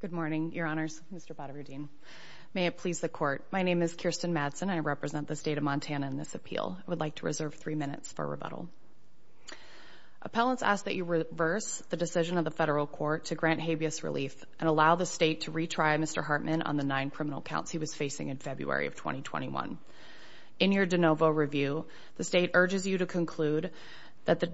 Good morning, your honors, Mr. Badaver-Dean. May it please the court, my name is Kirsten Madsen and I represent the state of Montana in this appeal. I would like to reserve three minutes for rebuttal. Appellants ask that you reverse the decision of the federal court to grant habeas relief and allow the state to retry Mr. Hartman on the nine criminal counts he was facing in February of 2021. In your de novo review, the state urges you to conclude that the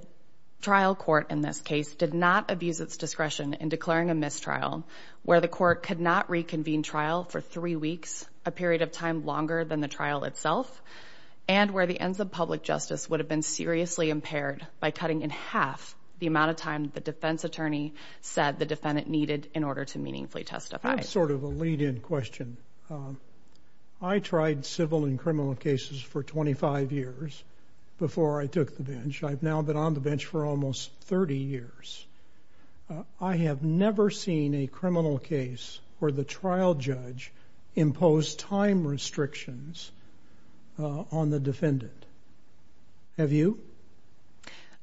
trial court in this case did not abuse its discretion in declaring a mistrial, where the court could not reconvene trial for three weeks, a period of time longer than the trial itself, and where the ends of public justice would have been seriously impaired by cutting in half the amount of time the defense attorney said the defendant needed in order to meaningfully testify. I have sort of a lead-in question. I tried civil and criminal cases for 25 years before I took the bench. I've now been on the bench for almost 30 years. I have never seen a criminal case where the trial judge imposed time restrictions on the defendant. Have you?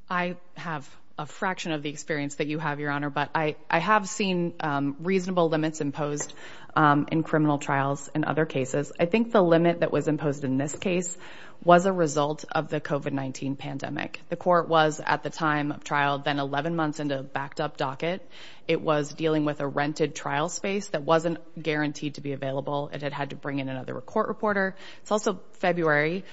I have a fraction of the experience that you have, your honor, but I have seen reasonable limits imposed in criminal trials and other cases. I think the limit that was imposed in this case was a result of the COVID-19 pandemic. The court was, at the time of trial, then 11 months into a backed-up docket. It was dealing with a rented trial space that wasn't guaranteed to be available. It had had to bring in another court reporter. It's also February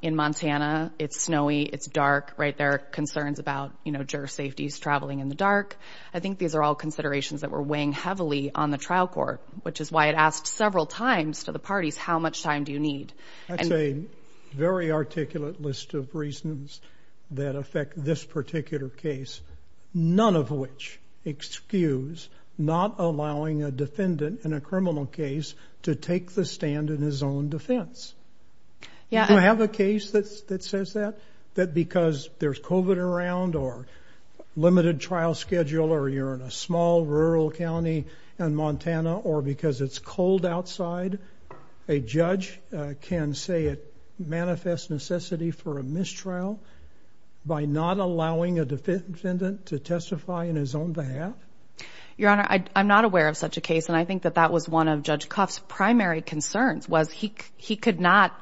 in Montana. It's snowy. It's dark. There are concerns about juror safeties traveling in the dark. I think these are all considerations that were weighing heavily on the trial court, which is why it asked several times to the parties, how much time do you need? That's a very articulate list of reasons that affect this particular case, none of which excuse not allowing a defendant in a criminal case to take the stand in his own defense. Do you have a case that says that? That because there's COVID around or limited trial schedule or you're in a small rural county in Montana or because it's cold outside, a judge can say it manifests necessity for a mistrial by not allowing a defendant to testify in his own behalf? Your Honor, I'm not aware of such a case, and I think that that was one of Judge Koff's primary concerns was he could not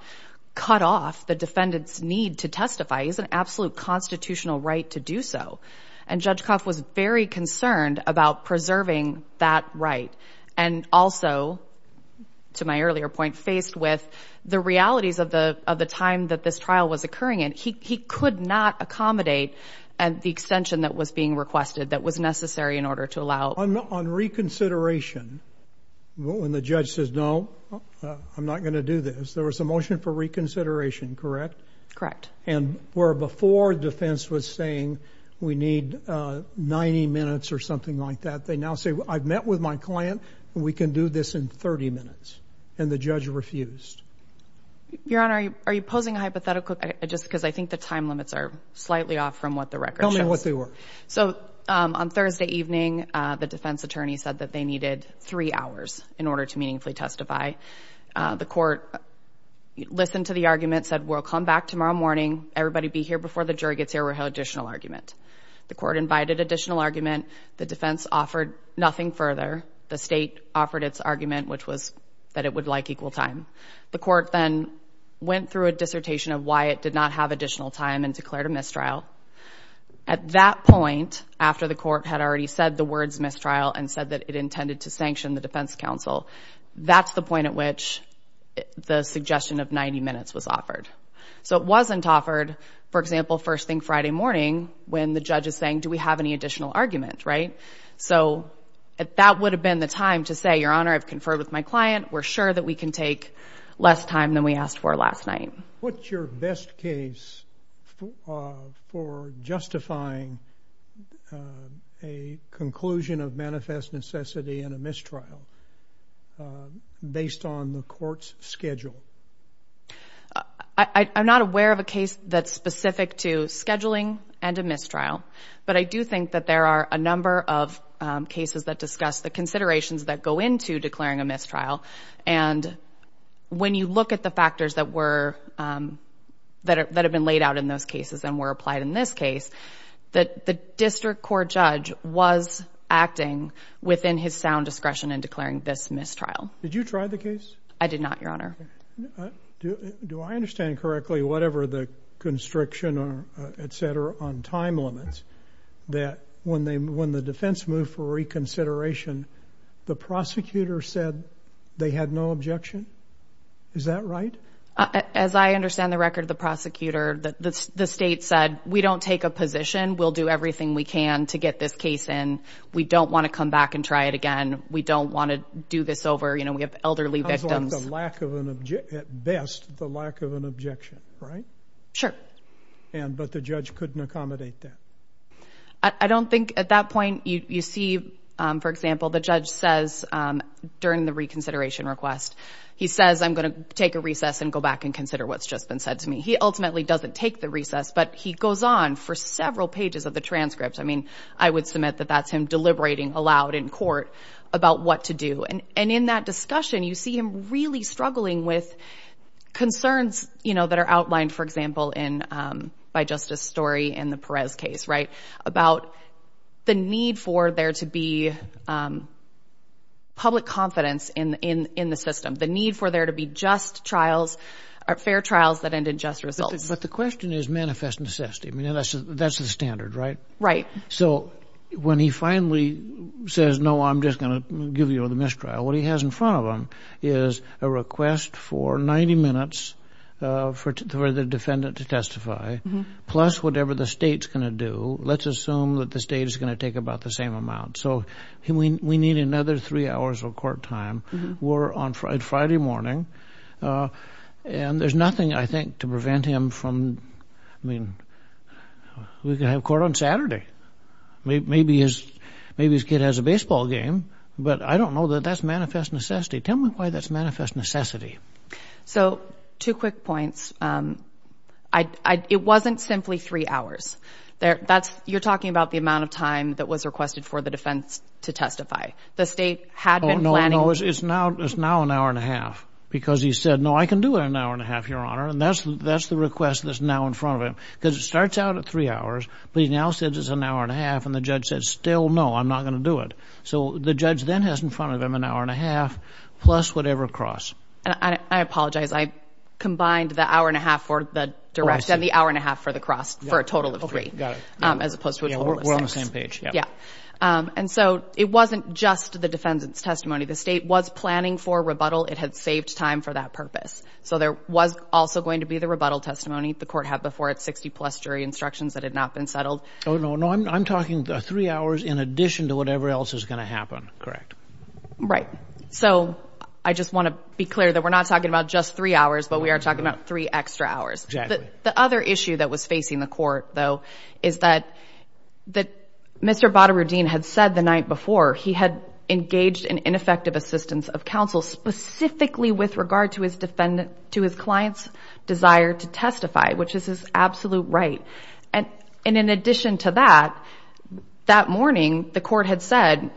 cut off the defendant's need to testify. He has an absolute constitutional right to do so, and Judge Koff was very concerned about preserving that right and also, to my earlier point, faced with the realities of the time that this trial was occurring, and he could not accommodate the extension that was being requested that was necessary in order to allow. On reconsideration, when the judge says, no, I'm not going to do this, there was a motion for reconsideration, correct? Correct. And where before defense was saying we need 90 minutes or something like that, they now say, I've met with my client and we can do this in 30 minutes, and the judge refused. Your Honor, are you posing a hypothetical, just because I think the time limits are slightly off from what the record shows. Tell me what they were. So on Thursday evening, the defense attorney said that they needed three hours in order to meaningfully testify. The court listened to the argument, said we'll come back tomorrow morning, everybody be here before the jury gets here, we'll have an additional argument. The court invited additional argument, the defense offered nothing further, the state offered its argument, which was that it would like equal time. The court then went through a dissertation of why it did not have additional time and declared a mistrial. At that point, after the court had already said the words mistrial and said that it intended to sanction the defense counsel, that's the point at which the suggestion of 90 minutes was offered. So it wasn't offered, for example, first thing Friday morning when the judge is saying, do we have any additional argument, right? So that would have been the time to say, Your Honor, I've conferred with my client, we're sure that we can take less time than we asked for last night. What's your best case for justifying a conclusion of manifest necessity in a mistrial based on the court's schedule? I'm not aware of a case that's specific to scheduling and a mistrial, but I do think that there are a number of cases that discuss the considerations that go into declaring a mistrial. And when you look at the factors that were, that have been laid out in those cases and were applied in this case, that the district court judge was acting within his sound discretion in declaring this mistrial. Did you try the case? I did not, Your Honor. Do I understand correctly, whatever the constriction, et cetera, on time limits, that when the defense moved for reconsideration, the prosecutor said they had no objection? Is that right? As I understand the record of the prosecutor, the state said, we don't take a position. We'll do everything we can to get this case in. We don't want to come back and try it again. We don't want to do this over. You know, we have elderly victims. How's like the lack of an, at best, the lack of an objection, right? Sure. And, but the judge couldn't accommodate that. I don't think at that point, you see, for example, the judge says during the reconsideration request, he says, I'm going to take a recess and go back and consider what's just been said to me. He ultimately doesn't take the recess, but he goes on for several pages of the transcripts. I mean, I would submit that that's him deliberating aloud in court about what to do. And in that discussion, you see him really struggling with concerns, you know, that are outlined, for example, in, um, by justice story and the Perez case, right? About the need for there to be, um, public confidence in, in, in the system, the need for there to be just trials or fair trials that ended just results. But the question is manifest necessity. I mean, that's, that's the standard, right? Right. So when he finally says, no, I'm just going to give you the mistrial, what he has in front of him is a request for 90 minutes, uh, for the defendant to testify plus whatever the state's going to do. Let's assume that the state is going to take about the same amount. So he, we, we need another three hours of court time. We're on Friday, Friday morning, uh, and there's nothing I think to prevent him from, I mean, we can have court on Saturday, maybe his, maybe his kid has a baseball game, but I don't know that that's manifest necessity. Tell me why that's manifest necessity. So two quick points. Um, I, I, it wasn't simply three hours there. That's, you're talking about the amount of time that was requested for the defense to testify. The state had been planning. It's now, it's now an hour and a half because he said, no, I can do it an hour and a half, your honor. And that's, that's the request that's now in front of him because it starts out at three hours, but he now says it's an hour and a half and the judge says, still, no, I'm not going to do it. So the judge then has in front of him an hour and a half plus whatever cross, I apologize. I combined the hour and a half for the direction of the hour and a half for the cross for a total of three, um, as opposed to, yeah. And so it wasn't just the defendant's testimony. The state was planning for rebuttal. It had saved time for that purpose. So there was also going to be the rebuttal testimony. The court had before it 60 plus jury instructions that had not been settled. Oh no, no. I'm talking the three hours in addition to whatever else is going to happen. Correct. Right. So I just want to be clear that we're not talking about just three hours, but we are talking about three extra hours. The other issue that was facing the court though, is that, that Mr. Baderudin had said the night before he had engaged in ineffective assistance of counsel specifically with regard to his defendant, to his client's desire to testify, which is his absolute right. And in addition to that, that morning the court had said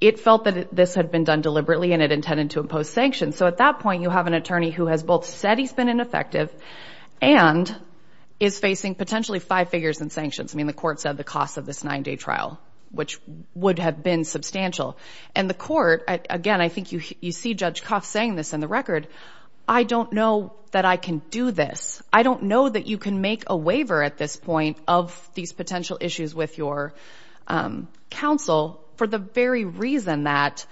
it felt that this had been done deliberately and it intended to impose sanctions. So at that point you have an attorney who has both said he's been ineffective and is facing potentially five figures in sanctions. I mean, the court said the cost of this nine day trial, which would have been substantial trial. And the court, again, I think you, you see Judge Cuff saying this in the record. I don't know that I can do this. I don't know that you can make a waiver at this point of these potential issues with your counsel for the very reason that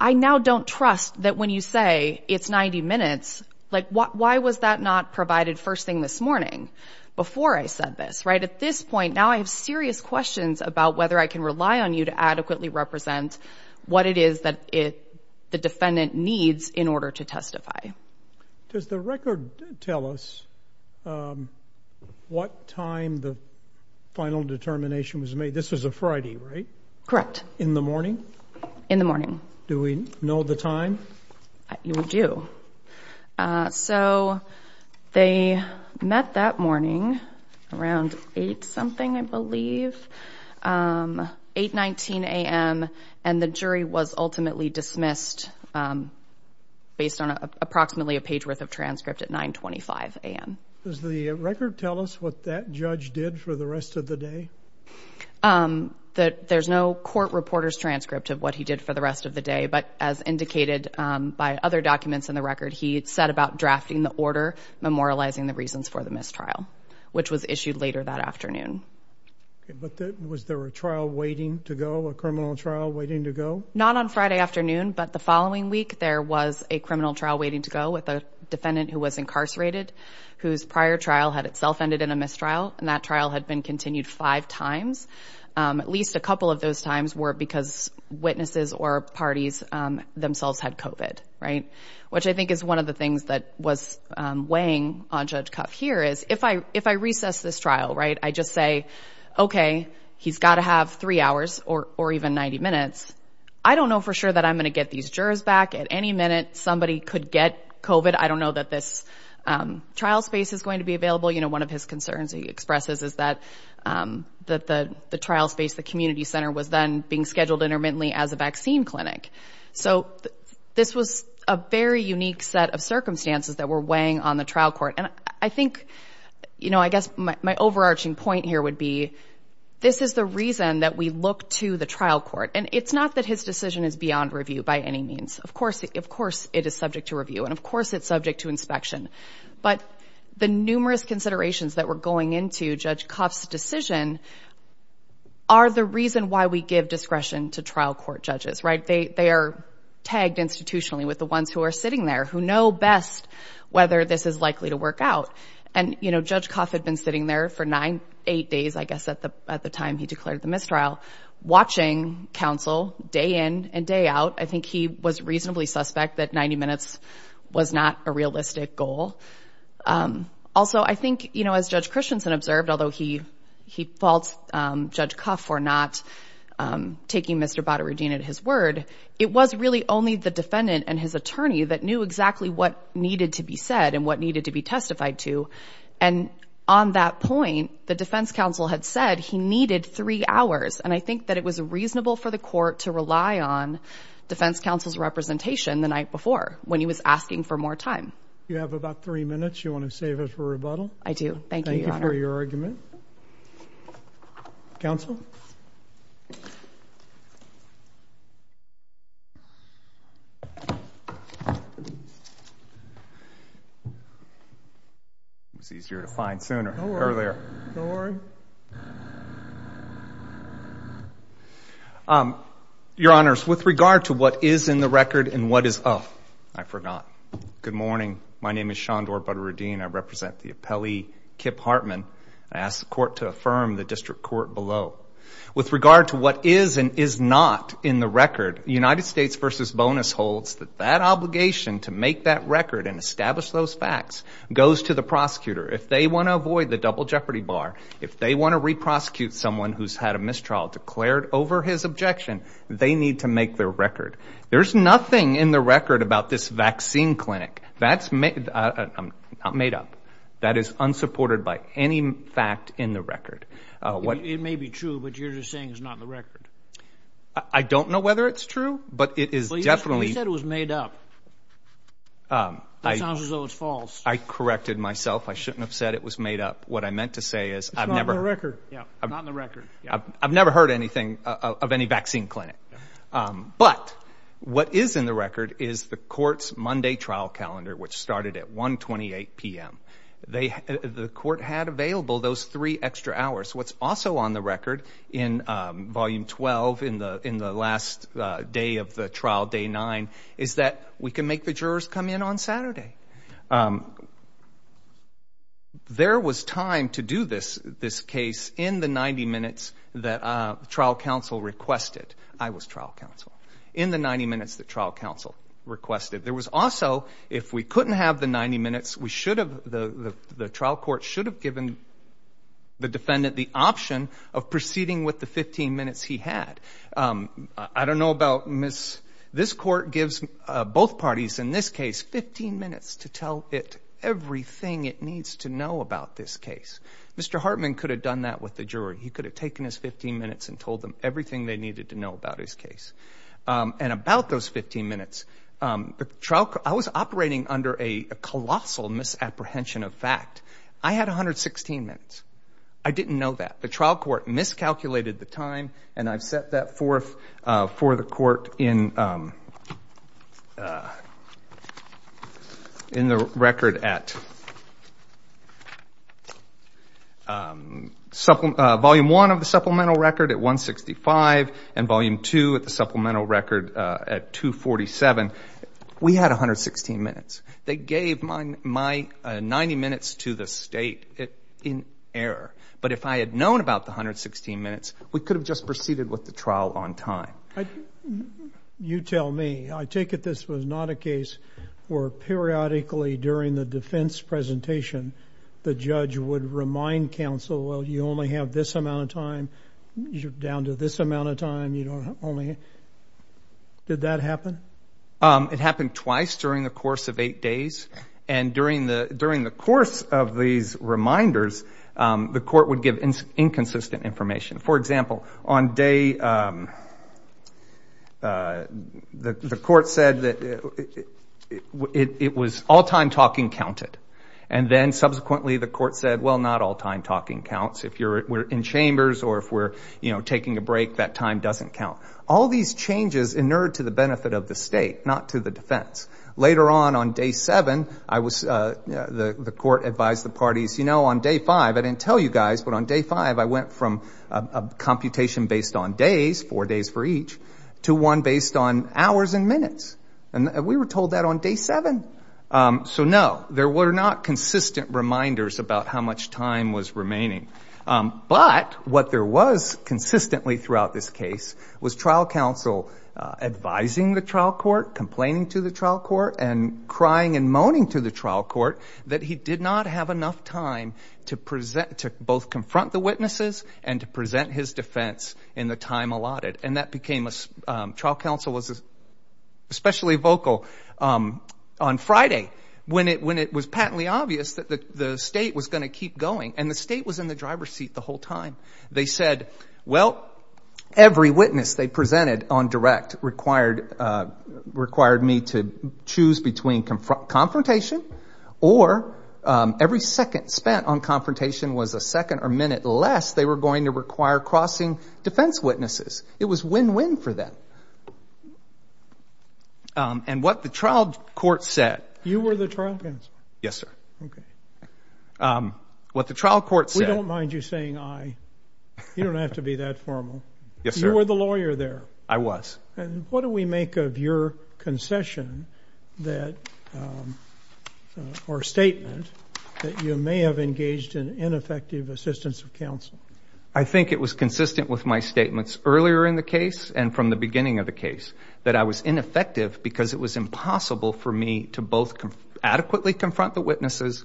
I now don't trust that when you say it's 90 minutes, like what, why was that not provided first thing this morning before I said this, right? At this point now I have serious questions about whether I can rely on you to adequately represent what it is that the defendant needs in order to testify. Does the record tell us what time the final determination was made? This was a Friday, right? Correct. In the morning? In the morning. Do we know the time? You do. So they met that morning around eight something, I believe, 8, 19 a.m. and the jury was ultimately dismissed based on approximately a page worth of transcript at 925 a.m. Does the record tell us what that judge did for the rest of the day? There's no court reporter's transcript of what he did for the rest of the day, but as said about drafting the order, memorializing the reasons for the mistrial, which was issued later that afternoon. Was there a trial waiting to go, a criminal trial waiting to go? Not on Friday afternoon, but the following week there was a criminal trial waiting to go with a defendant who was incarcerated, whose prior trial had itself ended in a mistrial and that trial had been continued five times. At least a couple of those times were because witnesses or parties themselves had COVID, right? Which I think is one of the things that was weighing on Judge Cuff here is if I recess this trial, right? I just say, okay, he's got to have three hours or even 90 minutes. I don't know for sure that I'm going to get these jurors back at any minute. Somebody could get COVID. I don't know that this trial space is going to be available. You know, one of his concerns he expresses is that the trial space, the community center was then being scheduled intermittently as a vaccine clinic. So this was a very unique set of circumstances that were weighing on the trial court. And I think, you know, I guess my overarching point here would be this is the reason that we look to the trial court and it's not that his decision is beyond review by any means. Of course, of course it is subject to review and of course it's subject to inspection. But the numerous considerations that were going into Judge Cuff's decision are the reason why we give discretion to trial court judges, right? They are tagged institutionally with the ones who are sitting there who know best whether this is likely to work out. And you know, Judge Cuff had been sitting there for nine, eight days, I guess at the time he declared the mistrial, watching counsel day in and day out. I think he was reasonably suspect that 90 minutes was not a realistic goal. Also, I think, you know, as Judge Christensen observed, although he faults Judge Cuff for not taking Mr. Bader-Rudin at his word, it was really only the defendant and his attorney that knew exactly what needed to be said and what needed to be testified to. And on that point, the defense counsel had said he needed three hours. And I think that it was reasonable for the court to rely on defense counsel's representation the night before when he was asking for more time. You have about three minutes. You want to save it for rebuttal? I do. Thank you for your argument. Counsel. It was easier to find sooner or earlier. Um, your honors, with regard to what is in the record and what is, oh, I forgot. Good morning. My name is Shandor Bader-Rudin. I represent the appellee, Kip Hartman. I ask the court to affirm the district court below. With regard to what is and is not in the record, United States versus bonus holds that that obligation to make that record and establish those facts goes to the prosecutor. If they want to avoid the double jeopardy bar, if they want to re-prosecute someone who's had a mistrial declared over his objection, they need to make their record. There's nothing in the record about this vaccine clinic. That's made, I'm not made up. That is unsupported by any fact in the record. Uh, it may be true, but you're just saying it's not in the record. I don't know whether it's true, but it is definitely. You said it was made up. Um, that sounds as though it's false. I corrected myself. I shouldn't have said it was made up. What I meant to say is I've never heard anything of any vaccine clinic. Um, but what is in the record is the court's Monday trial calendar, which started at 1 28 PM, they, the court had available those three extra hours. What's also on the record in, um, volume 12 in the, in the last day of the trial day nine is that we can make the jurors come in on Saturday. Um, there was time to do this, this case in the 90 minutes that, uh, trial counsel requested, I was trial counsel in the 90 minutes that trial counsel requested, there was also, if we couldn't have the 90 minutes, we should have the, the, the trial court should have given the defendant the option of proceeding with the 15 minutes he had. Um, I don't know about Ms. This court gives both parties in this case, 15 minutes to tell it everything it needs to know about this case. Mr. Hartman could have done that with the jury. He could have taken his 15 minutes and told them everything they needed to know about his case. Um, and about those 15 minutes, um, the trial, I was operating under a colossal misapprehension of fact. I had 116 minutes. I didn't know that the trial court miscalculated the time and I've set that forth, uh, for the court in, um, uh, in the record at, um, supplement, uh, volume one of the supplemental record at 165 and volume two at the supplemental record, uh, at 247. We had 116 minutes. They gave my, my, uh, 90 minutes to the state in error. But if I had known about the 116 minutes, we could have just proceeded with the trial on time. You tell me, I take it this was not a case where periodically during the defense presentation, the judge would remind counsel, well, you only have this amount of time down to this amount of time. You don't only, did that happen? Um, it happened twice during the course of eight days. And during the, during the course of these reminders, um, the court would give inconsistent information. For example, on day, um, uh, the, the court said that it was all time talking counted, and then subsequently the court said, well, not all time talking counts. If you're in chambers or if we're, you know, taking a break, that time doesn't count, all these changes inured to the benefit of the state, not to the defense. Later on, on day seven, I was, uh, the, the court advised the parties, you know, on day five, I didn't tell you guys, but on day five, I went from a computation based on days, four days for each to one based on hours and minutes. And we were told that on day seven. Um, so no, there were not consistent reminders about how much time was remaining, um, but what there was consistently throughout this case was trial counsel, uh, advising the trial court, complaining to the trial court and crying and moaning to the trial court that he did not have enough time to present, to both confront the witnesses and to present his defense in the time allotted. And that became a, um, trial counsel was especially vocal, um, on Friday when it, when it was patently obvious that the state was going to keep going and the state was in the driver's seat the whole time, they said, well, every witness they presented on direct required, uh, required me to choose between confront confrontation or, um, every second spent on confrontation was a second or minute less. They were going to require crossing defense witnesses. It was win-win for them. Um, and what the trial court said, you were the trial counsel. Yes, sir. Okay. Um, what the trial court said, don't mind you saying I, you don't have to be that Yes, sir. You were the lawyer there. I was. And what do we make of your concession that, um, uh, or statement that you may have engaged in ineffective assistance of counsel? I think it was consistent with my statements earlier in the case and from the beginning of the case that I was ineffective because it was impossible for me to both adequately confront the witnesses,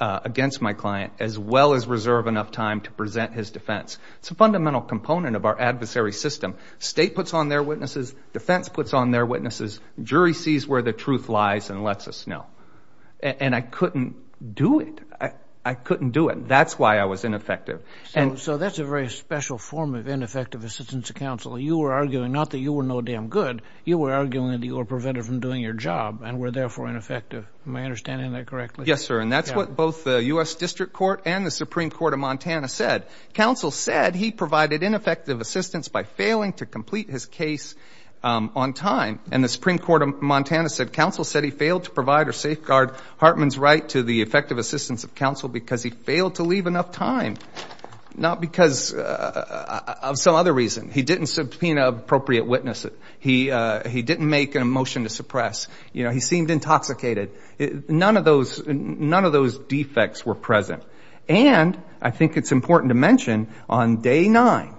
uh, against my client, as well as reserve enough time to present his defense. It's a fundamental component of our adversary system. State puts on their witnesses, defense puts on their witnesses, jury sees where the truth lies and lets us know. And I couldn't do it. I, I couldn't do it. That's why I was ineffective. And so that's a very special form of ineffective assistance to counsel. You were arguing, not that you were no damn good, you were arguing that you were prevented from doing your job and were therefore ineffective. Am I understanding that correctly? Yes, sir. And that's what both the U S district court and the Supreme court of Montana said, counsel said he provided ineffective assistance by failing to complete his case, um, on time. And the Supreme court of Montana said, counsel said he failed to provide or safeguard Hartman's right to the effective assistance of counsel because he failed to leave enough time. Not because, uh, of some other reason he didn't subpoena appropriate witnesses. He, uh, he didn't make an emotion to suppress, you know, he seemed intoxicated. It, none of those, none of those defects were present. And I think it's important to mention on day nine,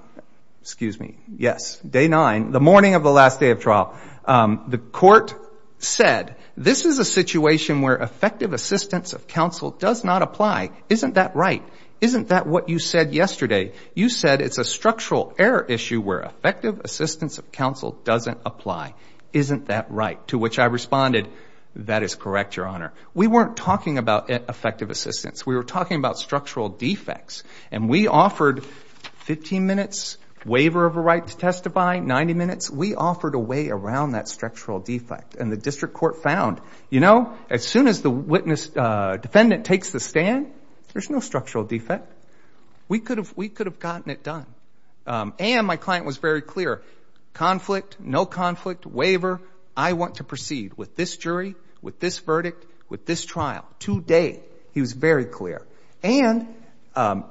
excuse me. Yes. Day nine, the morning of the last day of trial. Um, the court said, this is a situation where effective assistance of counsel does not apply. Isn't that right? Isn't that what you said yesterday? You said it's a structural error issue where effective assistance of counsel doesn't apply. Isn't that right? To which I responded, that is correct, your honor. We weren't talking about effective assistance. We were talking about structural defects and we offered 15 minutes waiver of a right to testify, 90 minutes. We offered a way around that structural defect and the district court found, you know, as soon as the witness, uh, defendant takes the stand, there's no structural defect. We could have, we could have gotten it done. Um, and my client was very clear. Conflict, no conflict waiver. I want to proceed with this jury, with this verdict, with this trial. Today, he was very clear. And, um,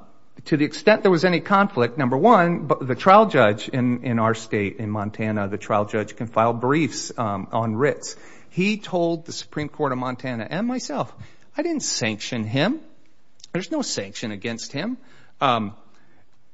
to the extent there was any conflict, number one, but the trial judge in, in our state, in Montana, the trial judge can file briefs, um, on writs. He told the Supreme court of Montana and myself, I didn't sanction him. There's no sanction against him. Um,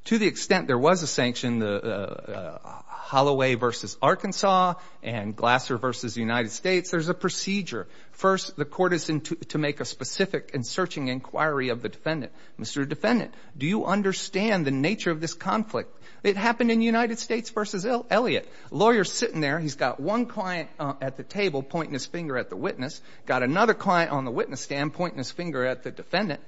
to the extent there was a sanction, the, uh, Holloway versus Arkansas and Glasser versus the United States. There's a procedure. First, the court is to make a specific and searching inquiry of the defendant. Mr. Defendant, do you understand the nature of this conflict? It happened in United States versus Elliot. Lawyer's sitting there. He's got one client at the table, pointing his finger at the witness. Got another client on the witness stand, pointing his finger at the defendant.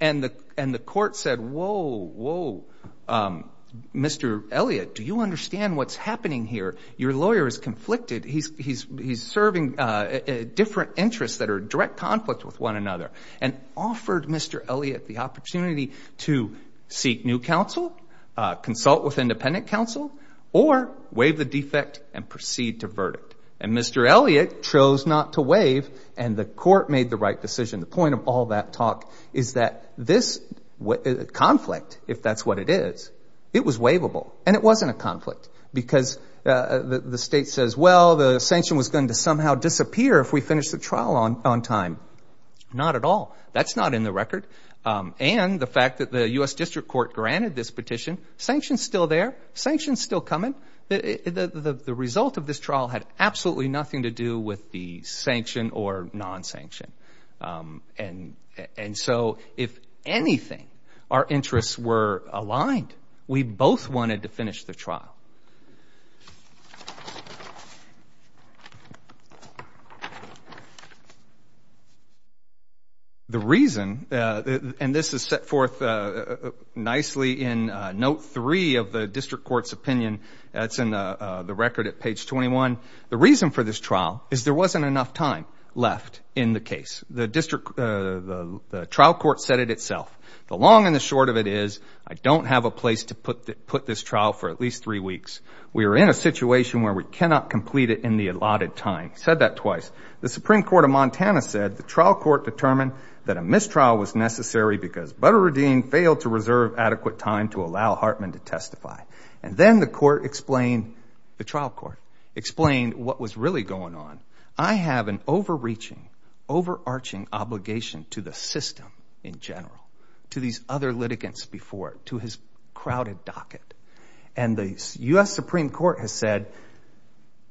And the, and the court said, Whoa, Whoa. Um, Mr. Elliot, do you understand what's happening here? Your lawyer is conflicted. He's, he's, he's serving, uh, different interests that are direct conflict with one another and offered Mr. Elliot the opportunity to seek new counsel, uh, consult with independent counsel or waive the defect and proceed to verdict and Mr. Elliot chose not to waive and the court made the right decision. The point of all that talk is that this conflict, if that's what it is, it was waivable. And it wasn't a conflict because, uh, the, the state says, well, the sanction was going to somehow disappear if we finished the trial on, on time. Not at all. That's not in the record. Um, and the fact that the U S district court granted this petition sanctions still there, sanctions still coming. The, the, the, the result of this trial had absolutely nothing to do with the sanction or non-sanction. Um, and, and so if anything, our interests were aligned, we both wanted to finish the trial. The reason, uh, and this is set forth, uh, nicely in, uh, note three of the district court's opinion. That's in, uh, uh, the record at page 21. The reason for this trial is there wasn't enough time left in the case. The district, uh, the, the trial court said it itself, the long and the short of it is I don't have a place to put the, put this trial for at least three weeks. We were in a situation where we cannot complete it in the allotted time. Said that twice. The Supreme court of Montana said the trial court determined that a mistrial was necessary because Butterredine failed to reserve adequate time to allow Hartman to testify. And then the court explained, the trial court explained what was really going on. I have an overreaching, overarching obligation to the system in general, to these other litigants before to his crowded docket and the U S Supreme court has said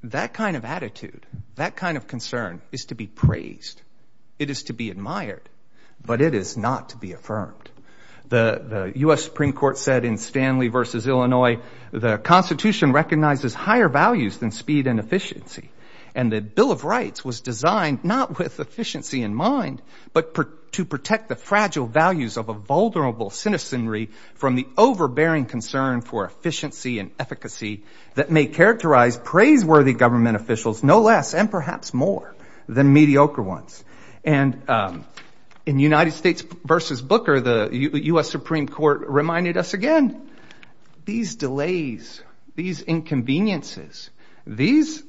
that kind of attitude, that kind of concern is to be praised. It is to be admired, but it is not to be affirmed. The U S Supreme court said in Stanley versus Illinois, the constitution recognizes higher values than speed and efficiency. And the bill of rights was designed not with efficiency in mind, but to protect the fragile values of a vulnerable citizenry from the overbearing concern for efficiency and efficacy that may characterize praiseworthy government officials, no less, and perhaps more than mediocre ones. And in United States versus Booker, the U S Supreme court reminded us again. These delays, these inconveniences, these,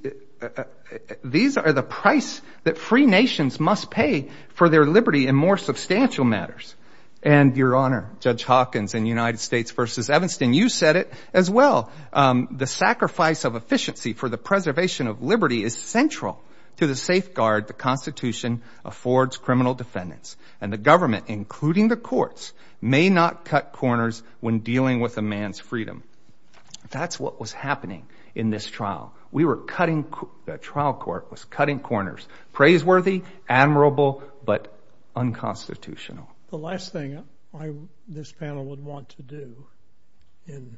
these are the price that free nations must pay for their Liberty and more substantial matters. And your honor, judge Hawkins in United States versus Evanston. You said it as well. Um, the sacrifice of efficiency for the preservation of Liberty is central to the safeguard. The constitution affords criminal defendants and the government, including the courts may not cut corners when dealing with a man's freedom. That's what was happening in this trial. We were cutting, the trial court was cutting corners, praiseworthy, admirable, but unconstitutional. The last thing I, this panel would want to do in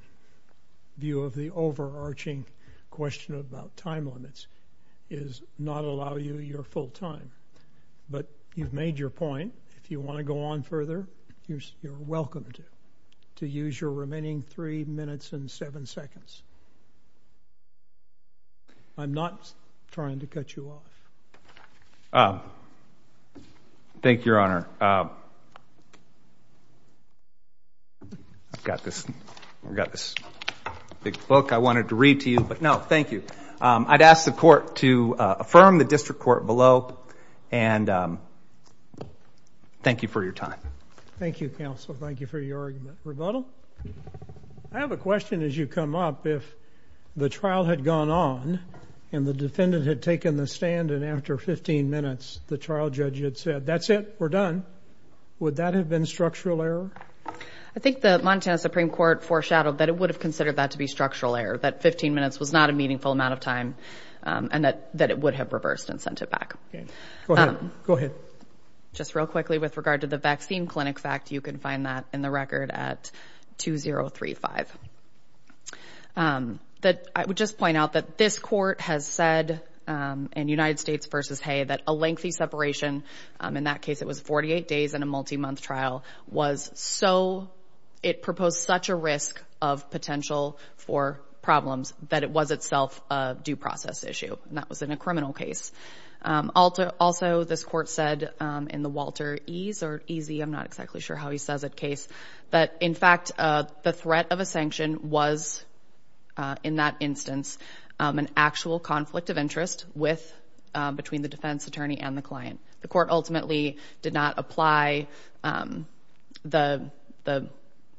view of the overarching question about time limits is not allow you your full time, but you've made your point, if you want to go on further, you're welcome to, to use your remaining three minutes and seven seconds. I'm not trying to cut you off. Um, thank you, your honor. Um, I've got this, we've got this big book I wanted to read to you, but no, thank you. Um, I'd ask the court to, uh, affirm the district court below and, um, thank you for your time. Thank you, counsel. Thank you for your argument. Rebuttal. I have a question as you come up, if the trial had gone on and the defendant had taken the stand and after 15 minutes, the trial judge had said, that's it. We're done. Would that have been structural error? I think the Montana Supreme court foreshadowed that it would have considered that to be structural error. That 15 minutes was not a meaningful amount of time. Um, and that, that it would have reversed and sent it back. Go ahead. Just real quickly with regard to the vaccine clinic fact, you can find that in the record at 2035. Um, that I would just point out that this court has said, um, in United States versus Hay, that a lengthy separation, um, in that case, it was 48 days in a multi-month trial was so, it proposed such a risk of potential for problems that it was itself a due process issue. And that was in a criminal case. Um, also, also this court said, um, in the Walter Ease or Easy, I'm not exactly sure how he says it case, but in fact, uh, the threat of a sanction was, uh, in that instance, um, an actual conflict of interest with, um, between the defense attorney and the client. The court ultimately did not apply. Um, the, the,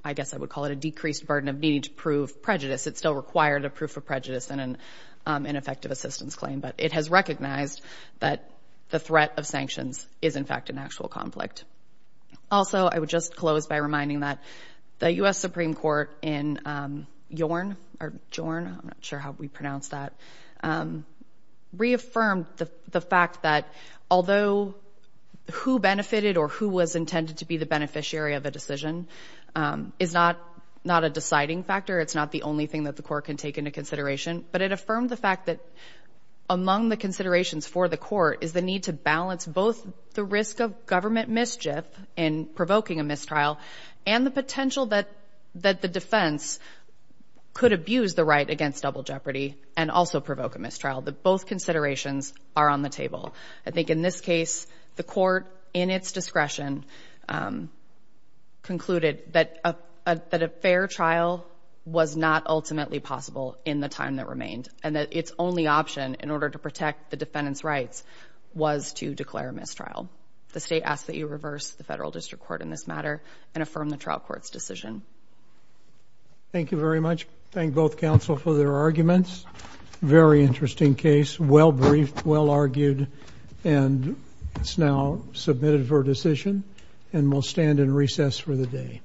I guess I would call it a decreased burden of needing to prove prejudice. It's still required a proof of prejudice and an, um, ineffective assistance claim, but it has recognized that the threat of sanctions is in fact, an actual conflict. Also, I would just close by reminding that the U.S. Supreme Court in, um, Yorn or Jorn, I'm not sure how we pronounce that, um, reaffirmed the fact that although who benefited or who was intended to be the beneficiary of a decision, um, is not, not a deciding factor. It's not the only thing that the court can take into consideration, but it affirmed the fact that among the considerations for the court is the need to balance both the risk of government mischief and provoking a mistrial and the potential that, that the defense could abuse the right against double jeopardy and also provoke a mistrial. That both considerations are on the table. I think in this case, the court in its discretion, um, concluded that, uh, uh, that a fair trial was not ultimately possible in the time that remained and that its only option in order to protect the defendant's rights was to declare a mistrial. The state asks that you reverse the federal district court in this matter and affirm the trial court's decision. Thank you very much. Thank both counsel for their arguments. Very interesting case. Well briefed, well argued, and it's now submitted for decision and we'll stand in recess for the day.